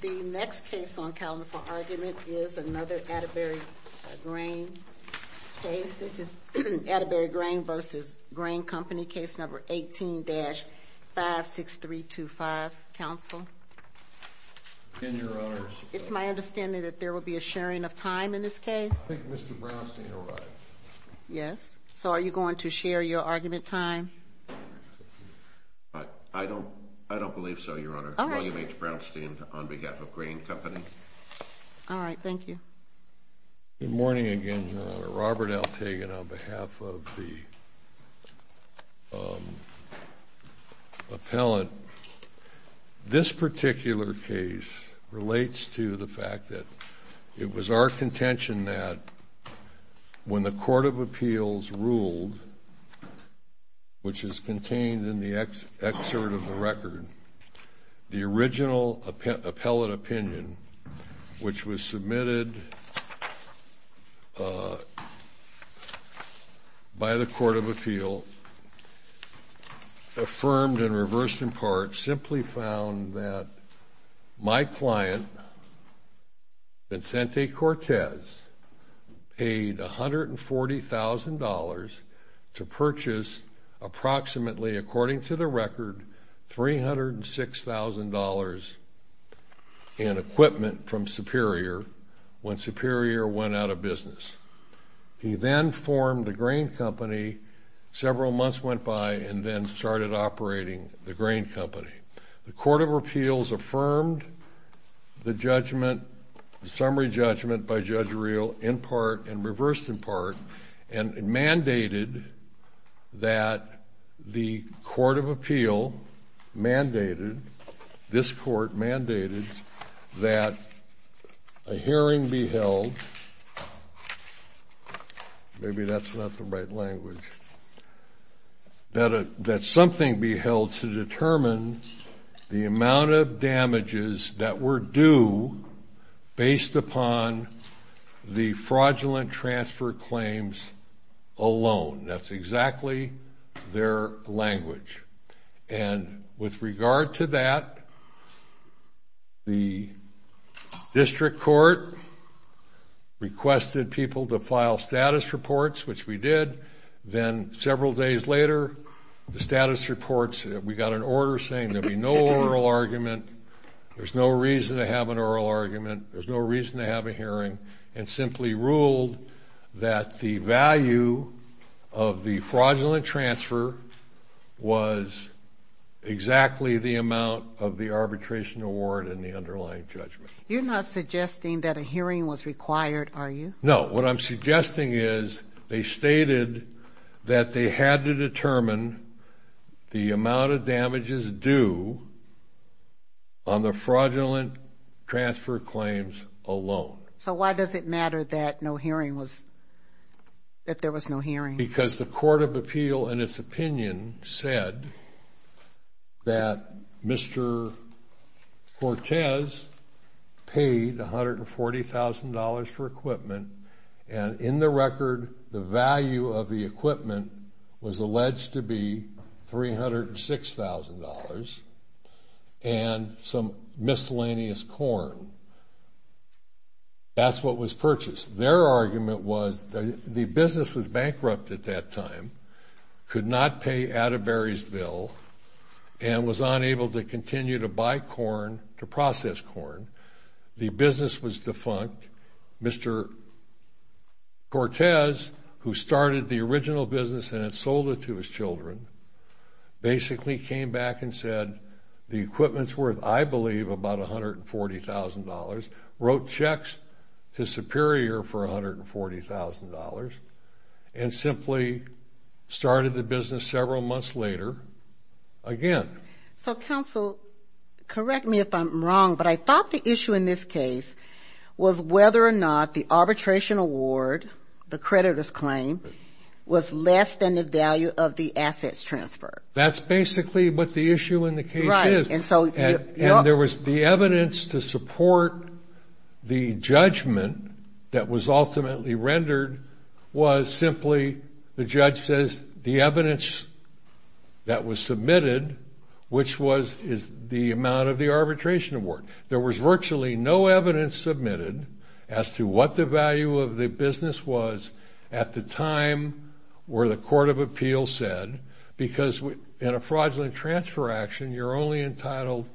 The next case on calendar for argument is another Attebury Grain case. This is Attebury Grain v. Grayn Company, Case No. 18-56325. Counsel? It's my understanding that there will be a sharing of time in this case? I think Mr. Brownstein will write. Yes. So are you going to share your argument time? I don't believe so, Your Honor. I'll leave it to Brownstein on behalf of Grayn Company. All right. Thank you. Good morning again, Your Honor. Robert Altagan on behalf of the appellant. This particular case relates to the fact that it was our contention that when the Court of Appeals ruled, which is contained in the excerpt of the record, the original appellate opinion, which was submitted by the Court of Appeals, affirmed and reversed in part, that my client, Vincente Cortez, paid $140,000 to purchase approximately, according to the record, $306,000 in equipment from Superior when Superior went out of business. He then formed the Grain Company, several months went by, and then started operating the Grain Company. The Court of Appeals affirmed the judgment, the summary judgment by Judge Reel in part and reversed in part and mandated that the Court of Appeal mandated, this Court mandated, that a hearing be held, maybe that's not the right language, that something be held to determine the amount of damages that were due based upon the fraudulent transfer claims alone. That's exactly their language. And with regard to that, the district court requested people to file status reports, which we did. Then several days later, the status reports, we got an order saying there'd be no oral argument, there's no reason to have an oral argument, there's no reason to have a hearing, and simply ruled that the value of the fraudulent transfer was exactly the amount of the arbitration award and the underlying judgment. You're not suggesting that a hearing was required, are you? No. What I'm suggesting is they stated that they had to determine the amount of damages due on the fraudulent transfer claims alone. So why does it matter that no hearing was, that there was no hearing? Because the Court of Appeal in its opinion said that Mr. Cortez paid $140,000 for equipment and in the record the value of the equipment was alleged to be $306,000 and some miscellaneous corn. That's what was purchased. Their argument was the business was bankrupt at that time, could not pay Atterbury's bill, and was unable to continue to buy corn, to process corn. The business was defunct. Mr. Cortez, who started the original business and had sold it to his children, basically came back and said the equipment's worth, I believe, about $140,000, wrote checks to Superior for $140,000, and simply started the business several months later again. So, counsel, correct me if I'm wrong, but I thought the issue in this case was whether or not the arbitration award, the creditor's claim, was less than the value of the assets transferred. That's basically what the issue in the case is, and there was the evidence to support the judgment that was ultimately rendered was simply, the judge says, the evidence that was submitted, which is the amount of the arbitration award. There was virtually no evidence submitted as to what the value of the business was at the time where the court of appeals said, because in a fraudulent transfer action, you're only entitled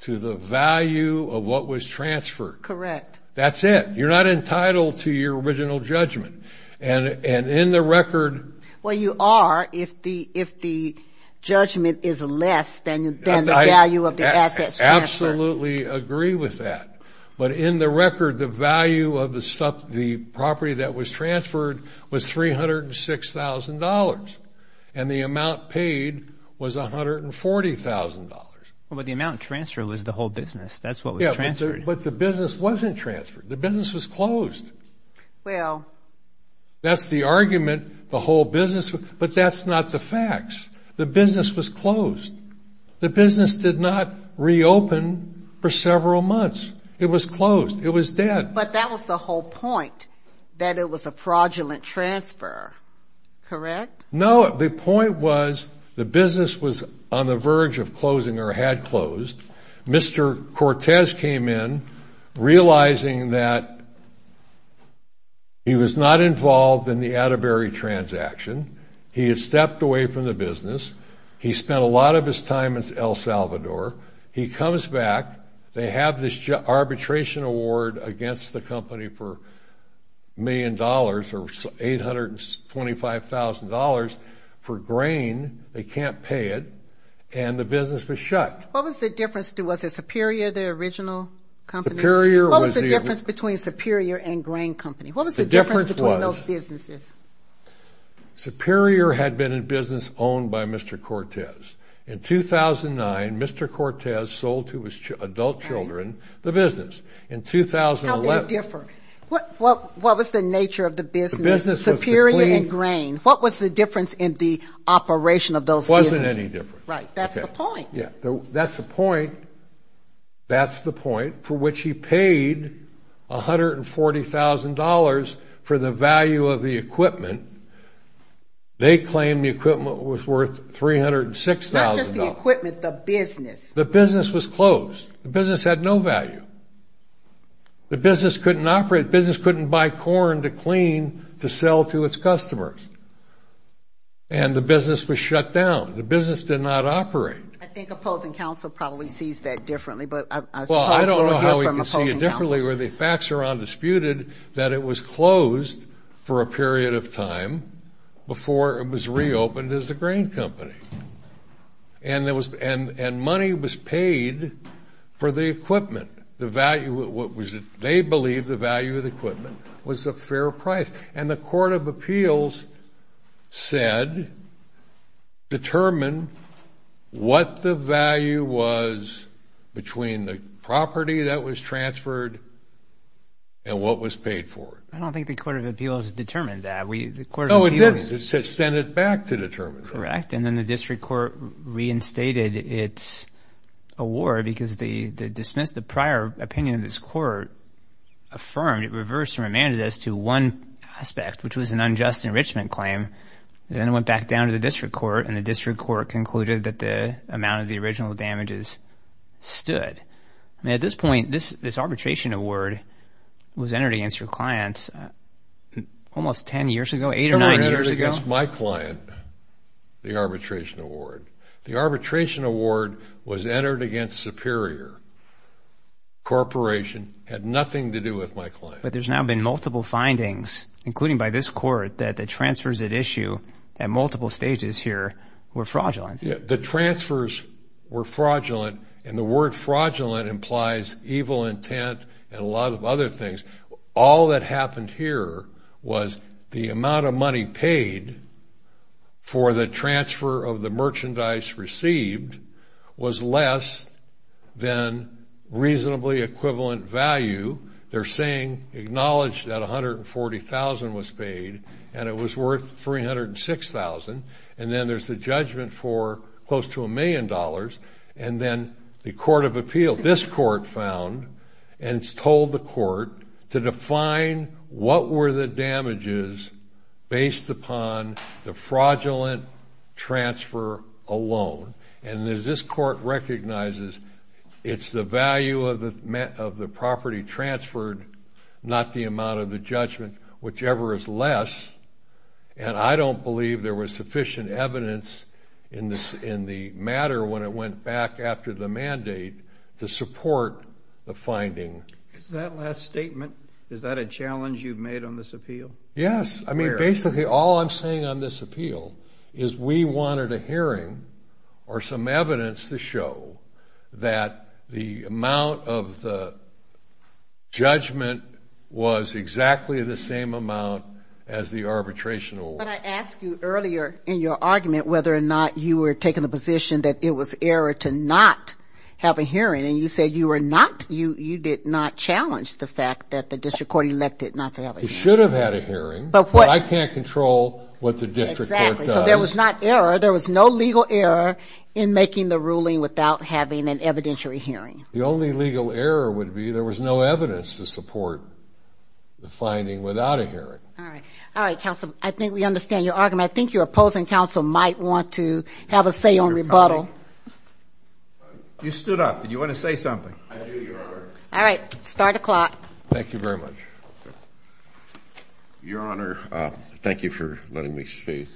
to the value of what was transferred. Correct. That's it. You're not entitled to your original judgment. And in the record... Well, you are if the judgment is less than the value of the assets transferred. I absolutely agree with that. But in the record, the value of the property that was transferred was $306,000, and the amount paid was $140,000. Well, but the amount transferred was the whole business. That's what was transferred. Yeah, but the business wasn't transferred. The business was closed. Well... That's the argument, the whole business, but that's not the facts. The business was closed. The business did not reopen for several months. It was closed. It was dead. But that was the whole point, that it was a fraudulent transfer. Correct? No, the point was the business was on the verge of closing or had closed. Mr. Cortez came in realizing that he was not involved in the Atterbury transaction. He had stepped away from the business. He spent a lot of his time in El Salvador. He comes back. They have this arbitration award against the company for $1 million or $825,000 for grain. They can't pay it, and the business was shut. What was the difference? Was it Superior, the original company? Superior was the... What was the difference between Superior and Grain Company? What was the difference between those businesses? Superior had been a business owned by Mr. Cortez. In 2009, Mr. Cortez sold to his adult children the business. In 2011... How did it differ? What was the nature of the business, Superior and Grain? What was the difference in the operation of those businesses? It wasn't any different. Right. That's the point. That's the point for which he paid $140,000 for the value of the equipment. They claimed the equipment was worth $306,000. Not just the equipment, the business. The business was closed. The business had no value. The business couldn't operate. The business couldn't buy corn to clean to sell to its customers. And the business was shut down. The business did not operate. I think opposing counsel probably sees that differently. Well, I don't know how we can see it differently where the facts are undisputed that it was closed for a period of time before it was reopened as a grain company. And money was paid for the equipment. They believed the value of the equipment was a fair price. And the court of appeals said determine what the value was between the property that was transferred and what was paid for. I don't think the court of appeals determined that. No, it did. It sent it back to determine that. Correct. And then the district court reinstated its award because they dismissed the prior opinion of this court, affirmed it, reversed and remanded it as to one aspect, which was an unjust enrichment claim. And then it went back down to the district court, and the district court concluded that the amount of the original damages stood. I mean, at this point, this arbitration award was entered against your clients almost 10 years ago, 8 or 9 years ago. No, it was entered against my client, the arbitration award. The arbitration award was entered against Superior Corporation. It had nothing to do with my client. But there's now been multiple findings, including by this court, that the transfers at issue at multiple stages here were fraudulent. Yeah, the transfers were fraudulent. And the word fraudulent implies evil intent and a lot of other things. All that happened here was the amount of money paid for the transfer of the merchandise received was less than reasonably equivalent value. They're saying acknowledged that $140,000 was paid, and it was worth $306,000. And then there's the judgment for close to a million dollars. And then the court of appeal, this court found and told the court to define what were the damages based upon the fraudulent transfer alone. And as this court recognizes, it's the value of the property transferred, not the amount of the judgment, whichever is less. And I don't believe there was sufficient evidence in the matter when it went back after the mandate to support the finding. Is that last statement, is that a challenge you've made on this appeal? Yes. I mean, basically all I'm saying on this appeal is we wanted a hearing or some evidence to show that the amount of the judgment was exactly the same amount as the arbitration award. But I asked you earlier in your argument whether or not you were taking the position that it was error to not have a hearing. And you said you were not, you did not challenge the fact that the district court elected not to have a hearing. You should have had a hearing, but I can't control what the district court does. Exactly. So there was not error. There was no legal error in making the ruling without having an evidentiary hearing. The only legal error would be there was no evidence to support the finding without a hearing. All right. All right, counsel. I think we understand your argument. I think your opposing counsel might want to have a say on rebuttal. You stood up. Did you want to say something? I do, Your Honor. All right. Start the clock. Thank you very much. Your Honor, thank you for letting me speak.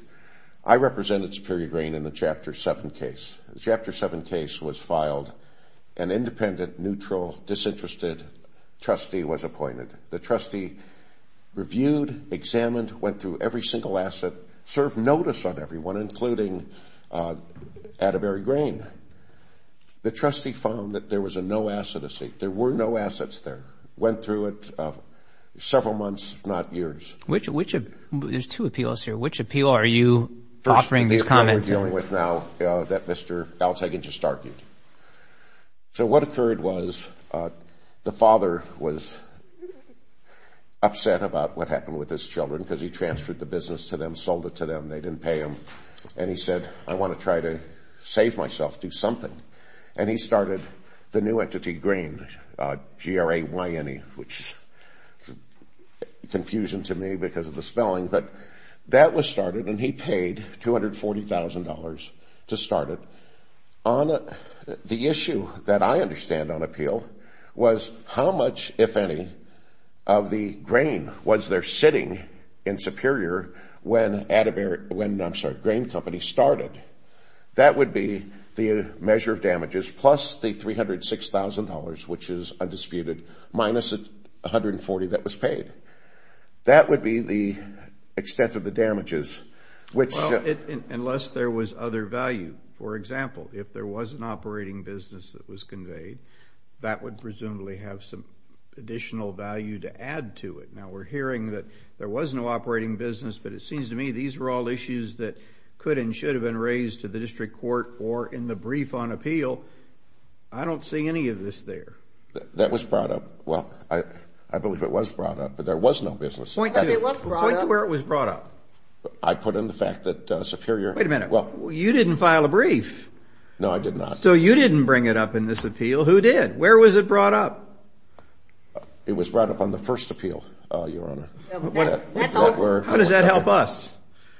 I represented Superior Grain in the Chapter 7 case. Chapter 7 case was filed. An independent, neutral, disinterested trustee was appointed. The trustee reviewed, examined, went through every single asset, served notice on everyone, including Atterbury Grain. The trustee found that there was a no-asset deceit. There were no assets there. Went through it several months, if not years. There's two appeals here. Which appeal are you offering these comments? The appeal we're dealing with now that Mr. Galtagan just argued. So what occurred was the father was upset about what happened with his children because he transferred the business to them, sold it to them. They didn't pay him. And he said, I want to try to save myself, do something. And he started the new entity, Grain, G-R-A-Y-N-E, which is a confusion to me because of the spelling. But that was started, and he paid $240,000 to start it. The issue that I understand on appeal was how much, if any, of the grain was there sitting in Superior when Grain Company started. That would be the measure of damages, plus the $306,000, which is undisputed, minus the $140,000 that was paid. That would be the extent of the damages. Unless there was other value. For example, if there was an operating business that was conveyed, that would presumably have some additional value to add to it. Now, we're hearing that there was no operating business, but it seems to me these were all issues that could and should have been raised to the district court or in the brief on appeal. I don't see any of this there. That was brought up. Well, I believe it was brought up, but there was no business. Point to where it was brought up. I put in the fact that Superior – Wait a minute. You didn't file a brief. No, I did not. So you didn't bring it up in this appeal. Who did? Where was it brought up? It was brought up on the first appeal, Your Honor. How does that help us?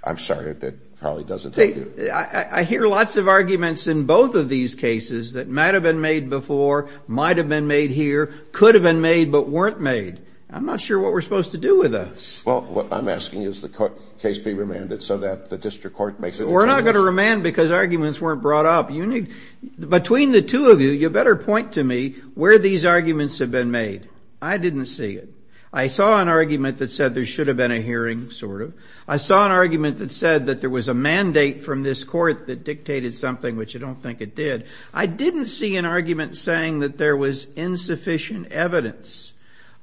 I'm sorry. That probably doesn't help you. I hear lots of arguments in both of these cases that might have been made before, might have been made here, could have been made, but weren't made. I'm not sure what we're supposed to do with this. Well, what I'm asking is the case be remanded so that the district court makes a decision. We're not going to remand because arguments weren't brought up. Between the two of you, you better point to me where these arguments have been made. I didn't see it. I saw an argument that said there should have been a hearing, sort of. I saw an argument that said that there was a mandate from this court that dictated something, which I don't think it did. I didn't see an argument saying that there was insufficient evidence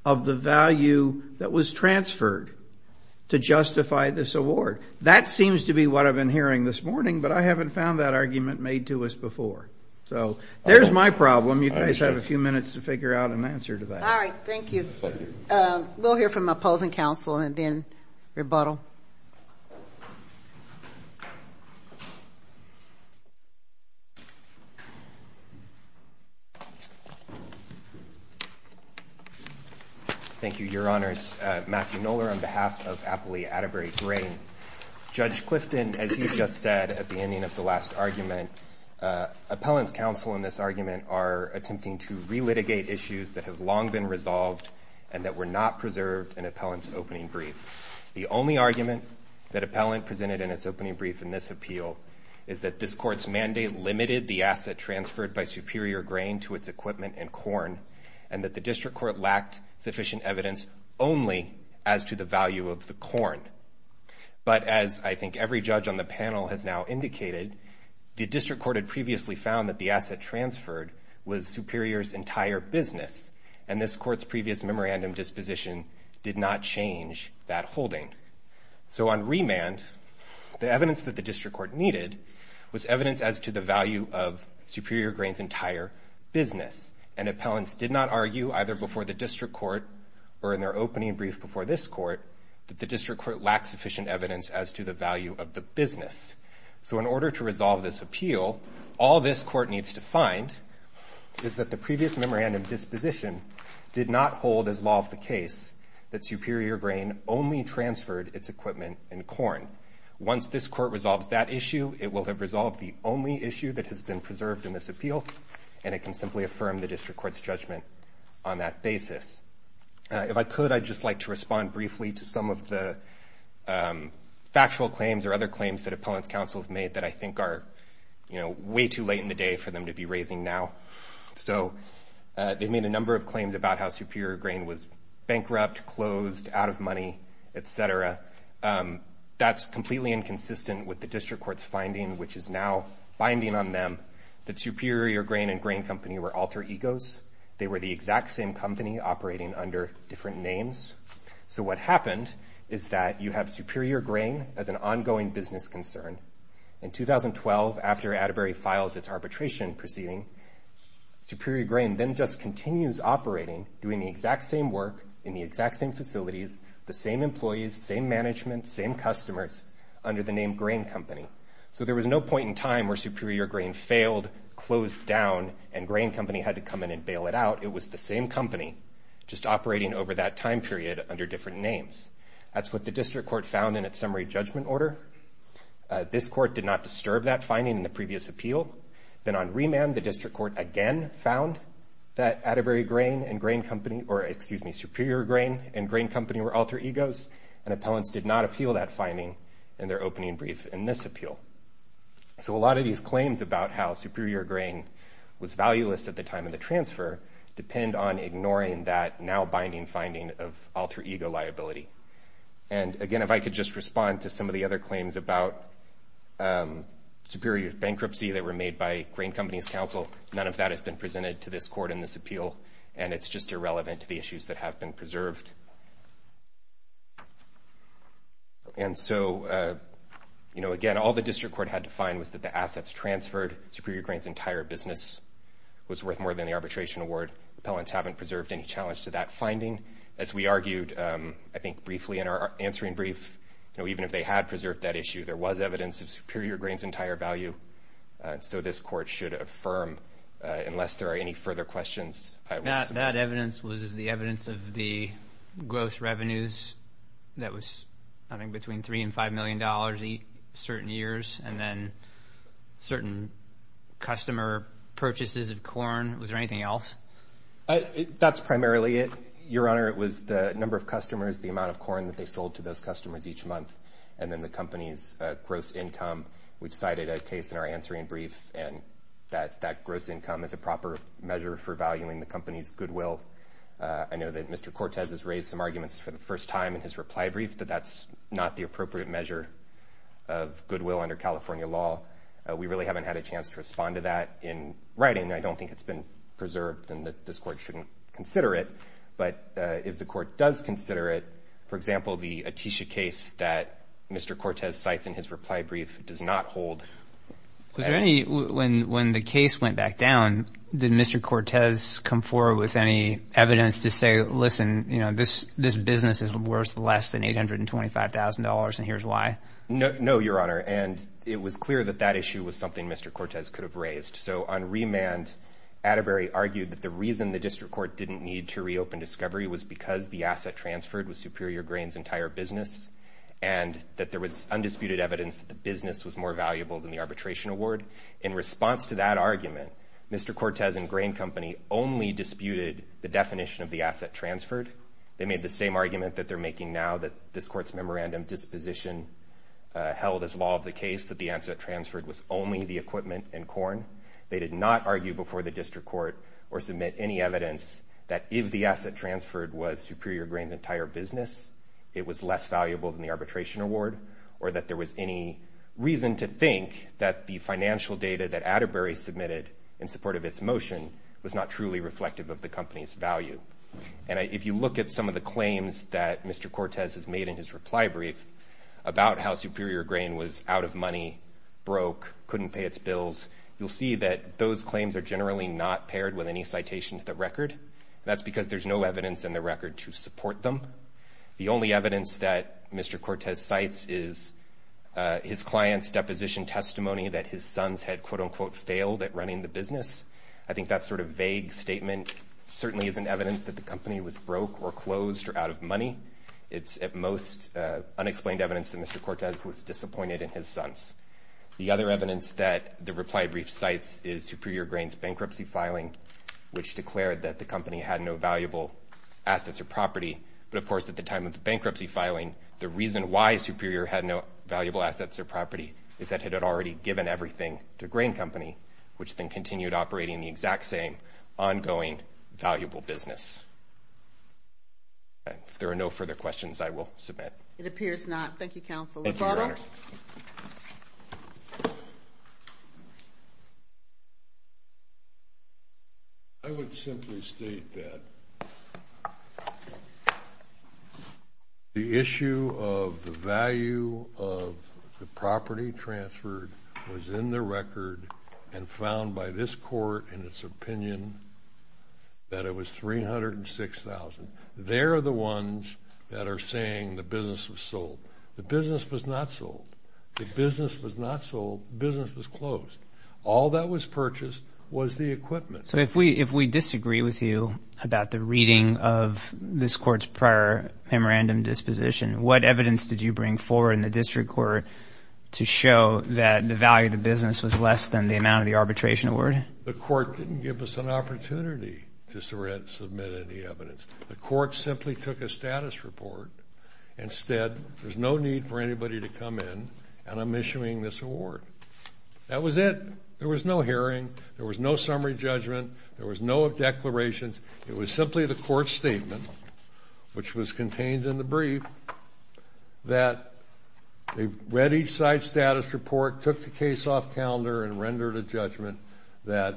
of the value that was transferred to justify this award. That seems to be what I've been hearing this morning, but I haven't found that argument made to us before. So there's my problem. You guys have a few minutes to figure out an answer to that. All right. Thank you. We'll hear from opposing counsel and then rebuttal. Thank you, Your Honors. Matthew Knoller on behalf of Appley Atterbury Grain. Judge Clifton, as you just said at the ending of the last argument, appellant's counsel in this argument are attempting to relitigate issues that have long been resolved and that were not preserved in appellant's opening brief. The only argument that appellant presented in its opening brief in this appeal is that this court's mandate limited the asset transferred by Superior Grain to its equipment and corn and that the district court lacked sufficient evidence only as to the value of the corn. But as I think every judge on the panel has now indicated, the district court had previously found that the asset transferred was Superior's entire business, and this court's previous memorandum disposition did not change that holding. So on remand, the evidence that the district court needed was evidence as to the value of Superior Grain's entire business, and appellants did not argue either before the district court or in their opening brief before this court that the district court lacked sufficient evidence as to the value of the business. So in order to resolve this appeal, all this court needs to find is that the previous memorandum disposition did not hold as law of the case that Superior Grain only transferred its equipment and corn. Once this court resolves that issue, it will have resolved the only issue that has been preserved in this appeal, and it can simply affirm the district court's judgment on that basis. If I could, I'd just like to respond briefly to some of the factual claims or other claims that appellants' counsel have made that I think are way too late in the day for them to be raising now. So they've made a number of claims about how Superior Grain was bankrupt, closed, out of money, et cetera. That's completely inconsistent with the district court's finding, which is now binding on them, that Superior Grain and Grain Company were alter egos. They were the exact same company operating under different names. So what happened is that you have Superior Grain as an ongoing business concern. In 2012, after Atterbury files its arbitration proceeding, Superior Grain then just continues operating, doing the exact same work in the exact same facilities, the same employees, same management, same customers, under the name Grain Company. So there was no point in time where Superior Grain failed, closed down, and Grain Company had to come in and bail it out. It was the same company just operating over that time period under different names. That's what the district court found in its summary judgment order. This court did not disturb that finding in the previous appeal. Then on remand, the district court again found that Atterbury Grain and Grain Company or, excuse me, Superior Grain and Grain Company were alter egos, and appellants did not appeal that finding in their opening brief in this appeal. So a lot of these claims about how Superior Grain was valueless at the time of the transfer depend on ignoring that now-binding finding of alter ego liability. And, again, if I could just respond to some of the other claims about Superior Bankruptcy that were made by Grain Company's counsel, none of that has been presented to this court in this appeal, and it's just irrelevant to the issues that have been preserved. And so, you know, again, all the district court had to find was that the assets transferred, Superior Grain's entire business was worth more than the arbitration award. Appellants haven't preserved any challenge to that finding. As we argued, I think, briefly in our answering brief, even if they had preserved that issue, there was evidence of Superior Grain's entire value. So this court should affirm, unless there are any further questions. That evidence was the evidence of the gross revenues that was, I think, between $3 million and $5 million certain years, and then certain customer purchases of corn. Was there anything else? That's primarily it, Your Honor. It was the number of customers, the amount of corn that they sold to those customers each month, and then the company's gross income. We've cited a case in our answering brief, and that gross income is a proper measure for valuing the company's goodwill. I know that Mr. Cortez has raised some arguments for the first time in his reply brief that that's not the appropriate measure of goodwill under California law. We really haven't had a chance to respond to that in writing. I don't think it's been preserved and that this court shouldn't consider it. But if the court does consider it, for example, the Atisha case that Mr. Cortez cites in his reply brief does not hold. When the case went back down, did Mr. Cortez come forward with any evidence to say, listen, this business is worth less than $825,000, and here's why? No, Your Honor, and it was clear that that issue was something Mr. Cortez could have raised. So on remand, Atterbury argued that the reason the district court didn't need to reopen discovery was because the asset transferred was Superior Grain's entire business and that there was undisputed evidence that the business was more valuable than the arbitration award. In response to that argument, Mr. Cortez and Grain Company only disputed the definition of the asset transferred. They made the same argument that they're making now, that this court's memorandum disposition held as law of the case, that the asset transferred was only the equipment and corn. They did not argue before the district court or submit any evidence that if the asset transferred was Superior Grain's entire business, it was less valuable than the arbitration award, or that there was any reason to think that the financial data that Atterbury submitted in support of its motion was not truly reflective of the company's value. And if you look at some of the claims that Mr. Cortez has made in his reply brief about how Superior Grain was out of money, broke, couldn't pay its bills, you'll see that those claims are generally not paired with any citation to the record. That's because there's no evidence in the record to support them. The only evidence that Mr. Cortez cites is his client's deposition testimony that his sons had, quote-unquote, failed at running the business. I think that sort of vague statement certainly isn't evidence that the company was broke or closed or out of money. It's, at most, unexplained evidence that Mr. Cortez was disappointed in his sons. The other evidence that the reply brief cites is Superior Grain's bankruptcy filing, which declared that the company had no valuable assets or property. But, of course, at the time of the bankruptcy filing, the reason why Superior had no valuable assets or property is that it had already given everything to Grain Company, which then continued operating the exact same ongoing valuable business. If there are no further questions, I will submit. It appears not. Thank you, Counsel. Thank you, Your Honor. I would simply state that the issue of the value of the property transferred was in the record and found by this court in its opinion that it was $306,000. They're the ones that are saying the business was sold. The business was not sold. The business was not sold. The business was closed. All that was purchased was the equipment. So if we disagree with you about the reading of this court's prior memorandum disposition, what evidence did you bring forward in the district court to show that the value of the business was less than the amount of the arbitration award? The court didn't give us an opportunity to submit any evidence. The court simply took a status report and said there's no need for anybody to come in and I'm issuing this award. That was it. There was no hearing. There was no summary judgment. There was no declarations. It was simply the court's statement, which was contained in the brief, that they read each side's status report, took the case off calendar, and rendered a judgment that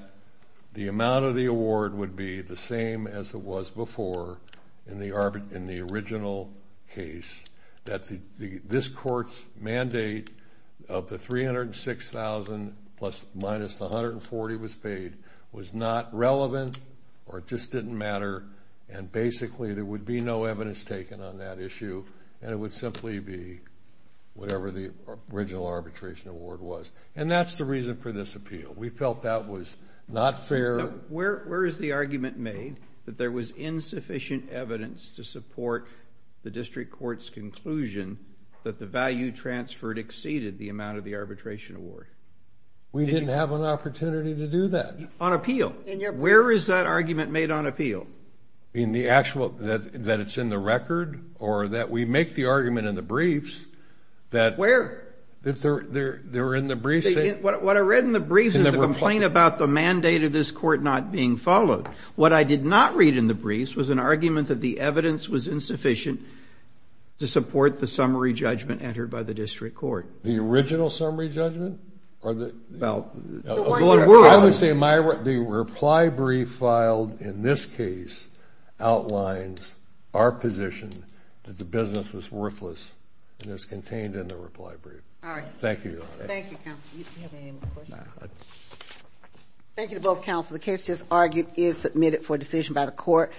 the amount of the award would be the same as it was before in the original case. That this court's mandate of the $306,000 minus the $140,000 was paid was not relevant or just didn't matter and basically there would be no evidence taken on that issue and it would simply be whatever the original arbitration award was. And that's the reason for this appeal. We felt that was not fair. Where is the argument made that there was insufficient evidence to support the district court's conclusion that the value transferred exceeded the amount of the arbitration award? We didn't have an opportunity to do that. Where is that argument made on appeal? In the actual, that it's in the record or that we make the argument in the briefs. Where? They were in the briefs. What I read in the briefs is a complaint about the mandate of this court not being followed. What I did not read in the briefs was an argument that the evidence was insufficient to support the summary judgment entered by the district court. The original summary judgment? No. I would say the reply brief filed in this case outlines our position that the business was worthless and is contained in the reply brief. All right. Thank you. Thank you, counsel. Do you have any other questions? No. The case just argued is submitted for decision by the court.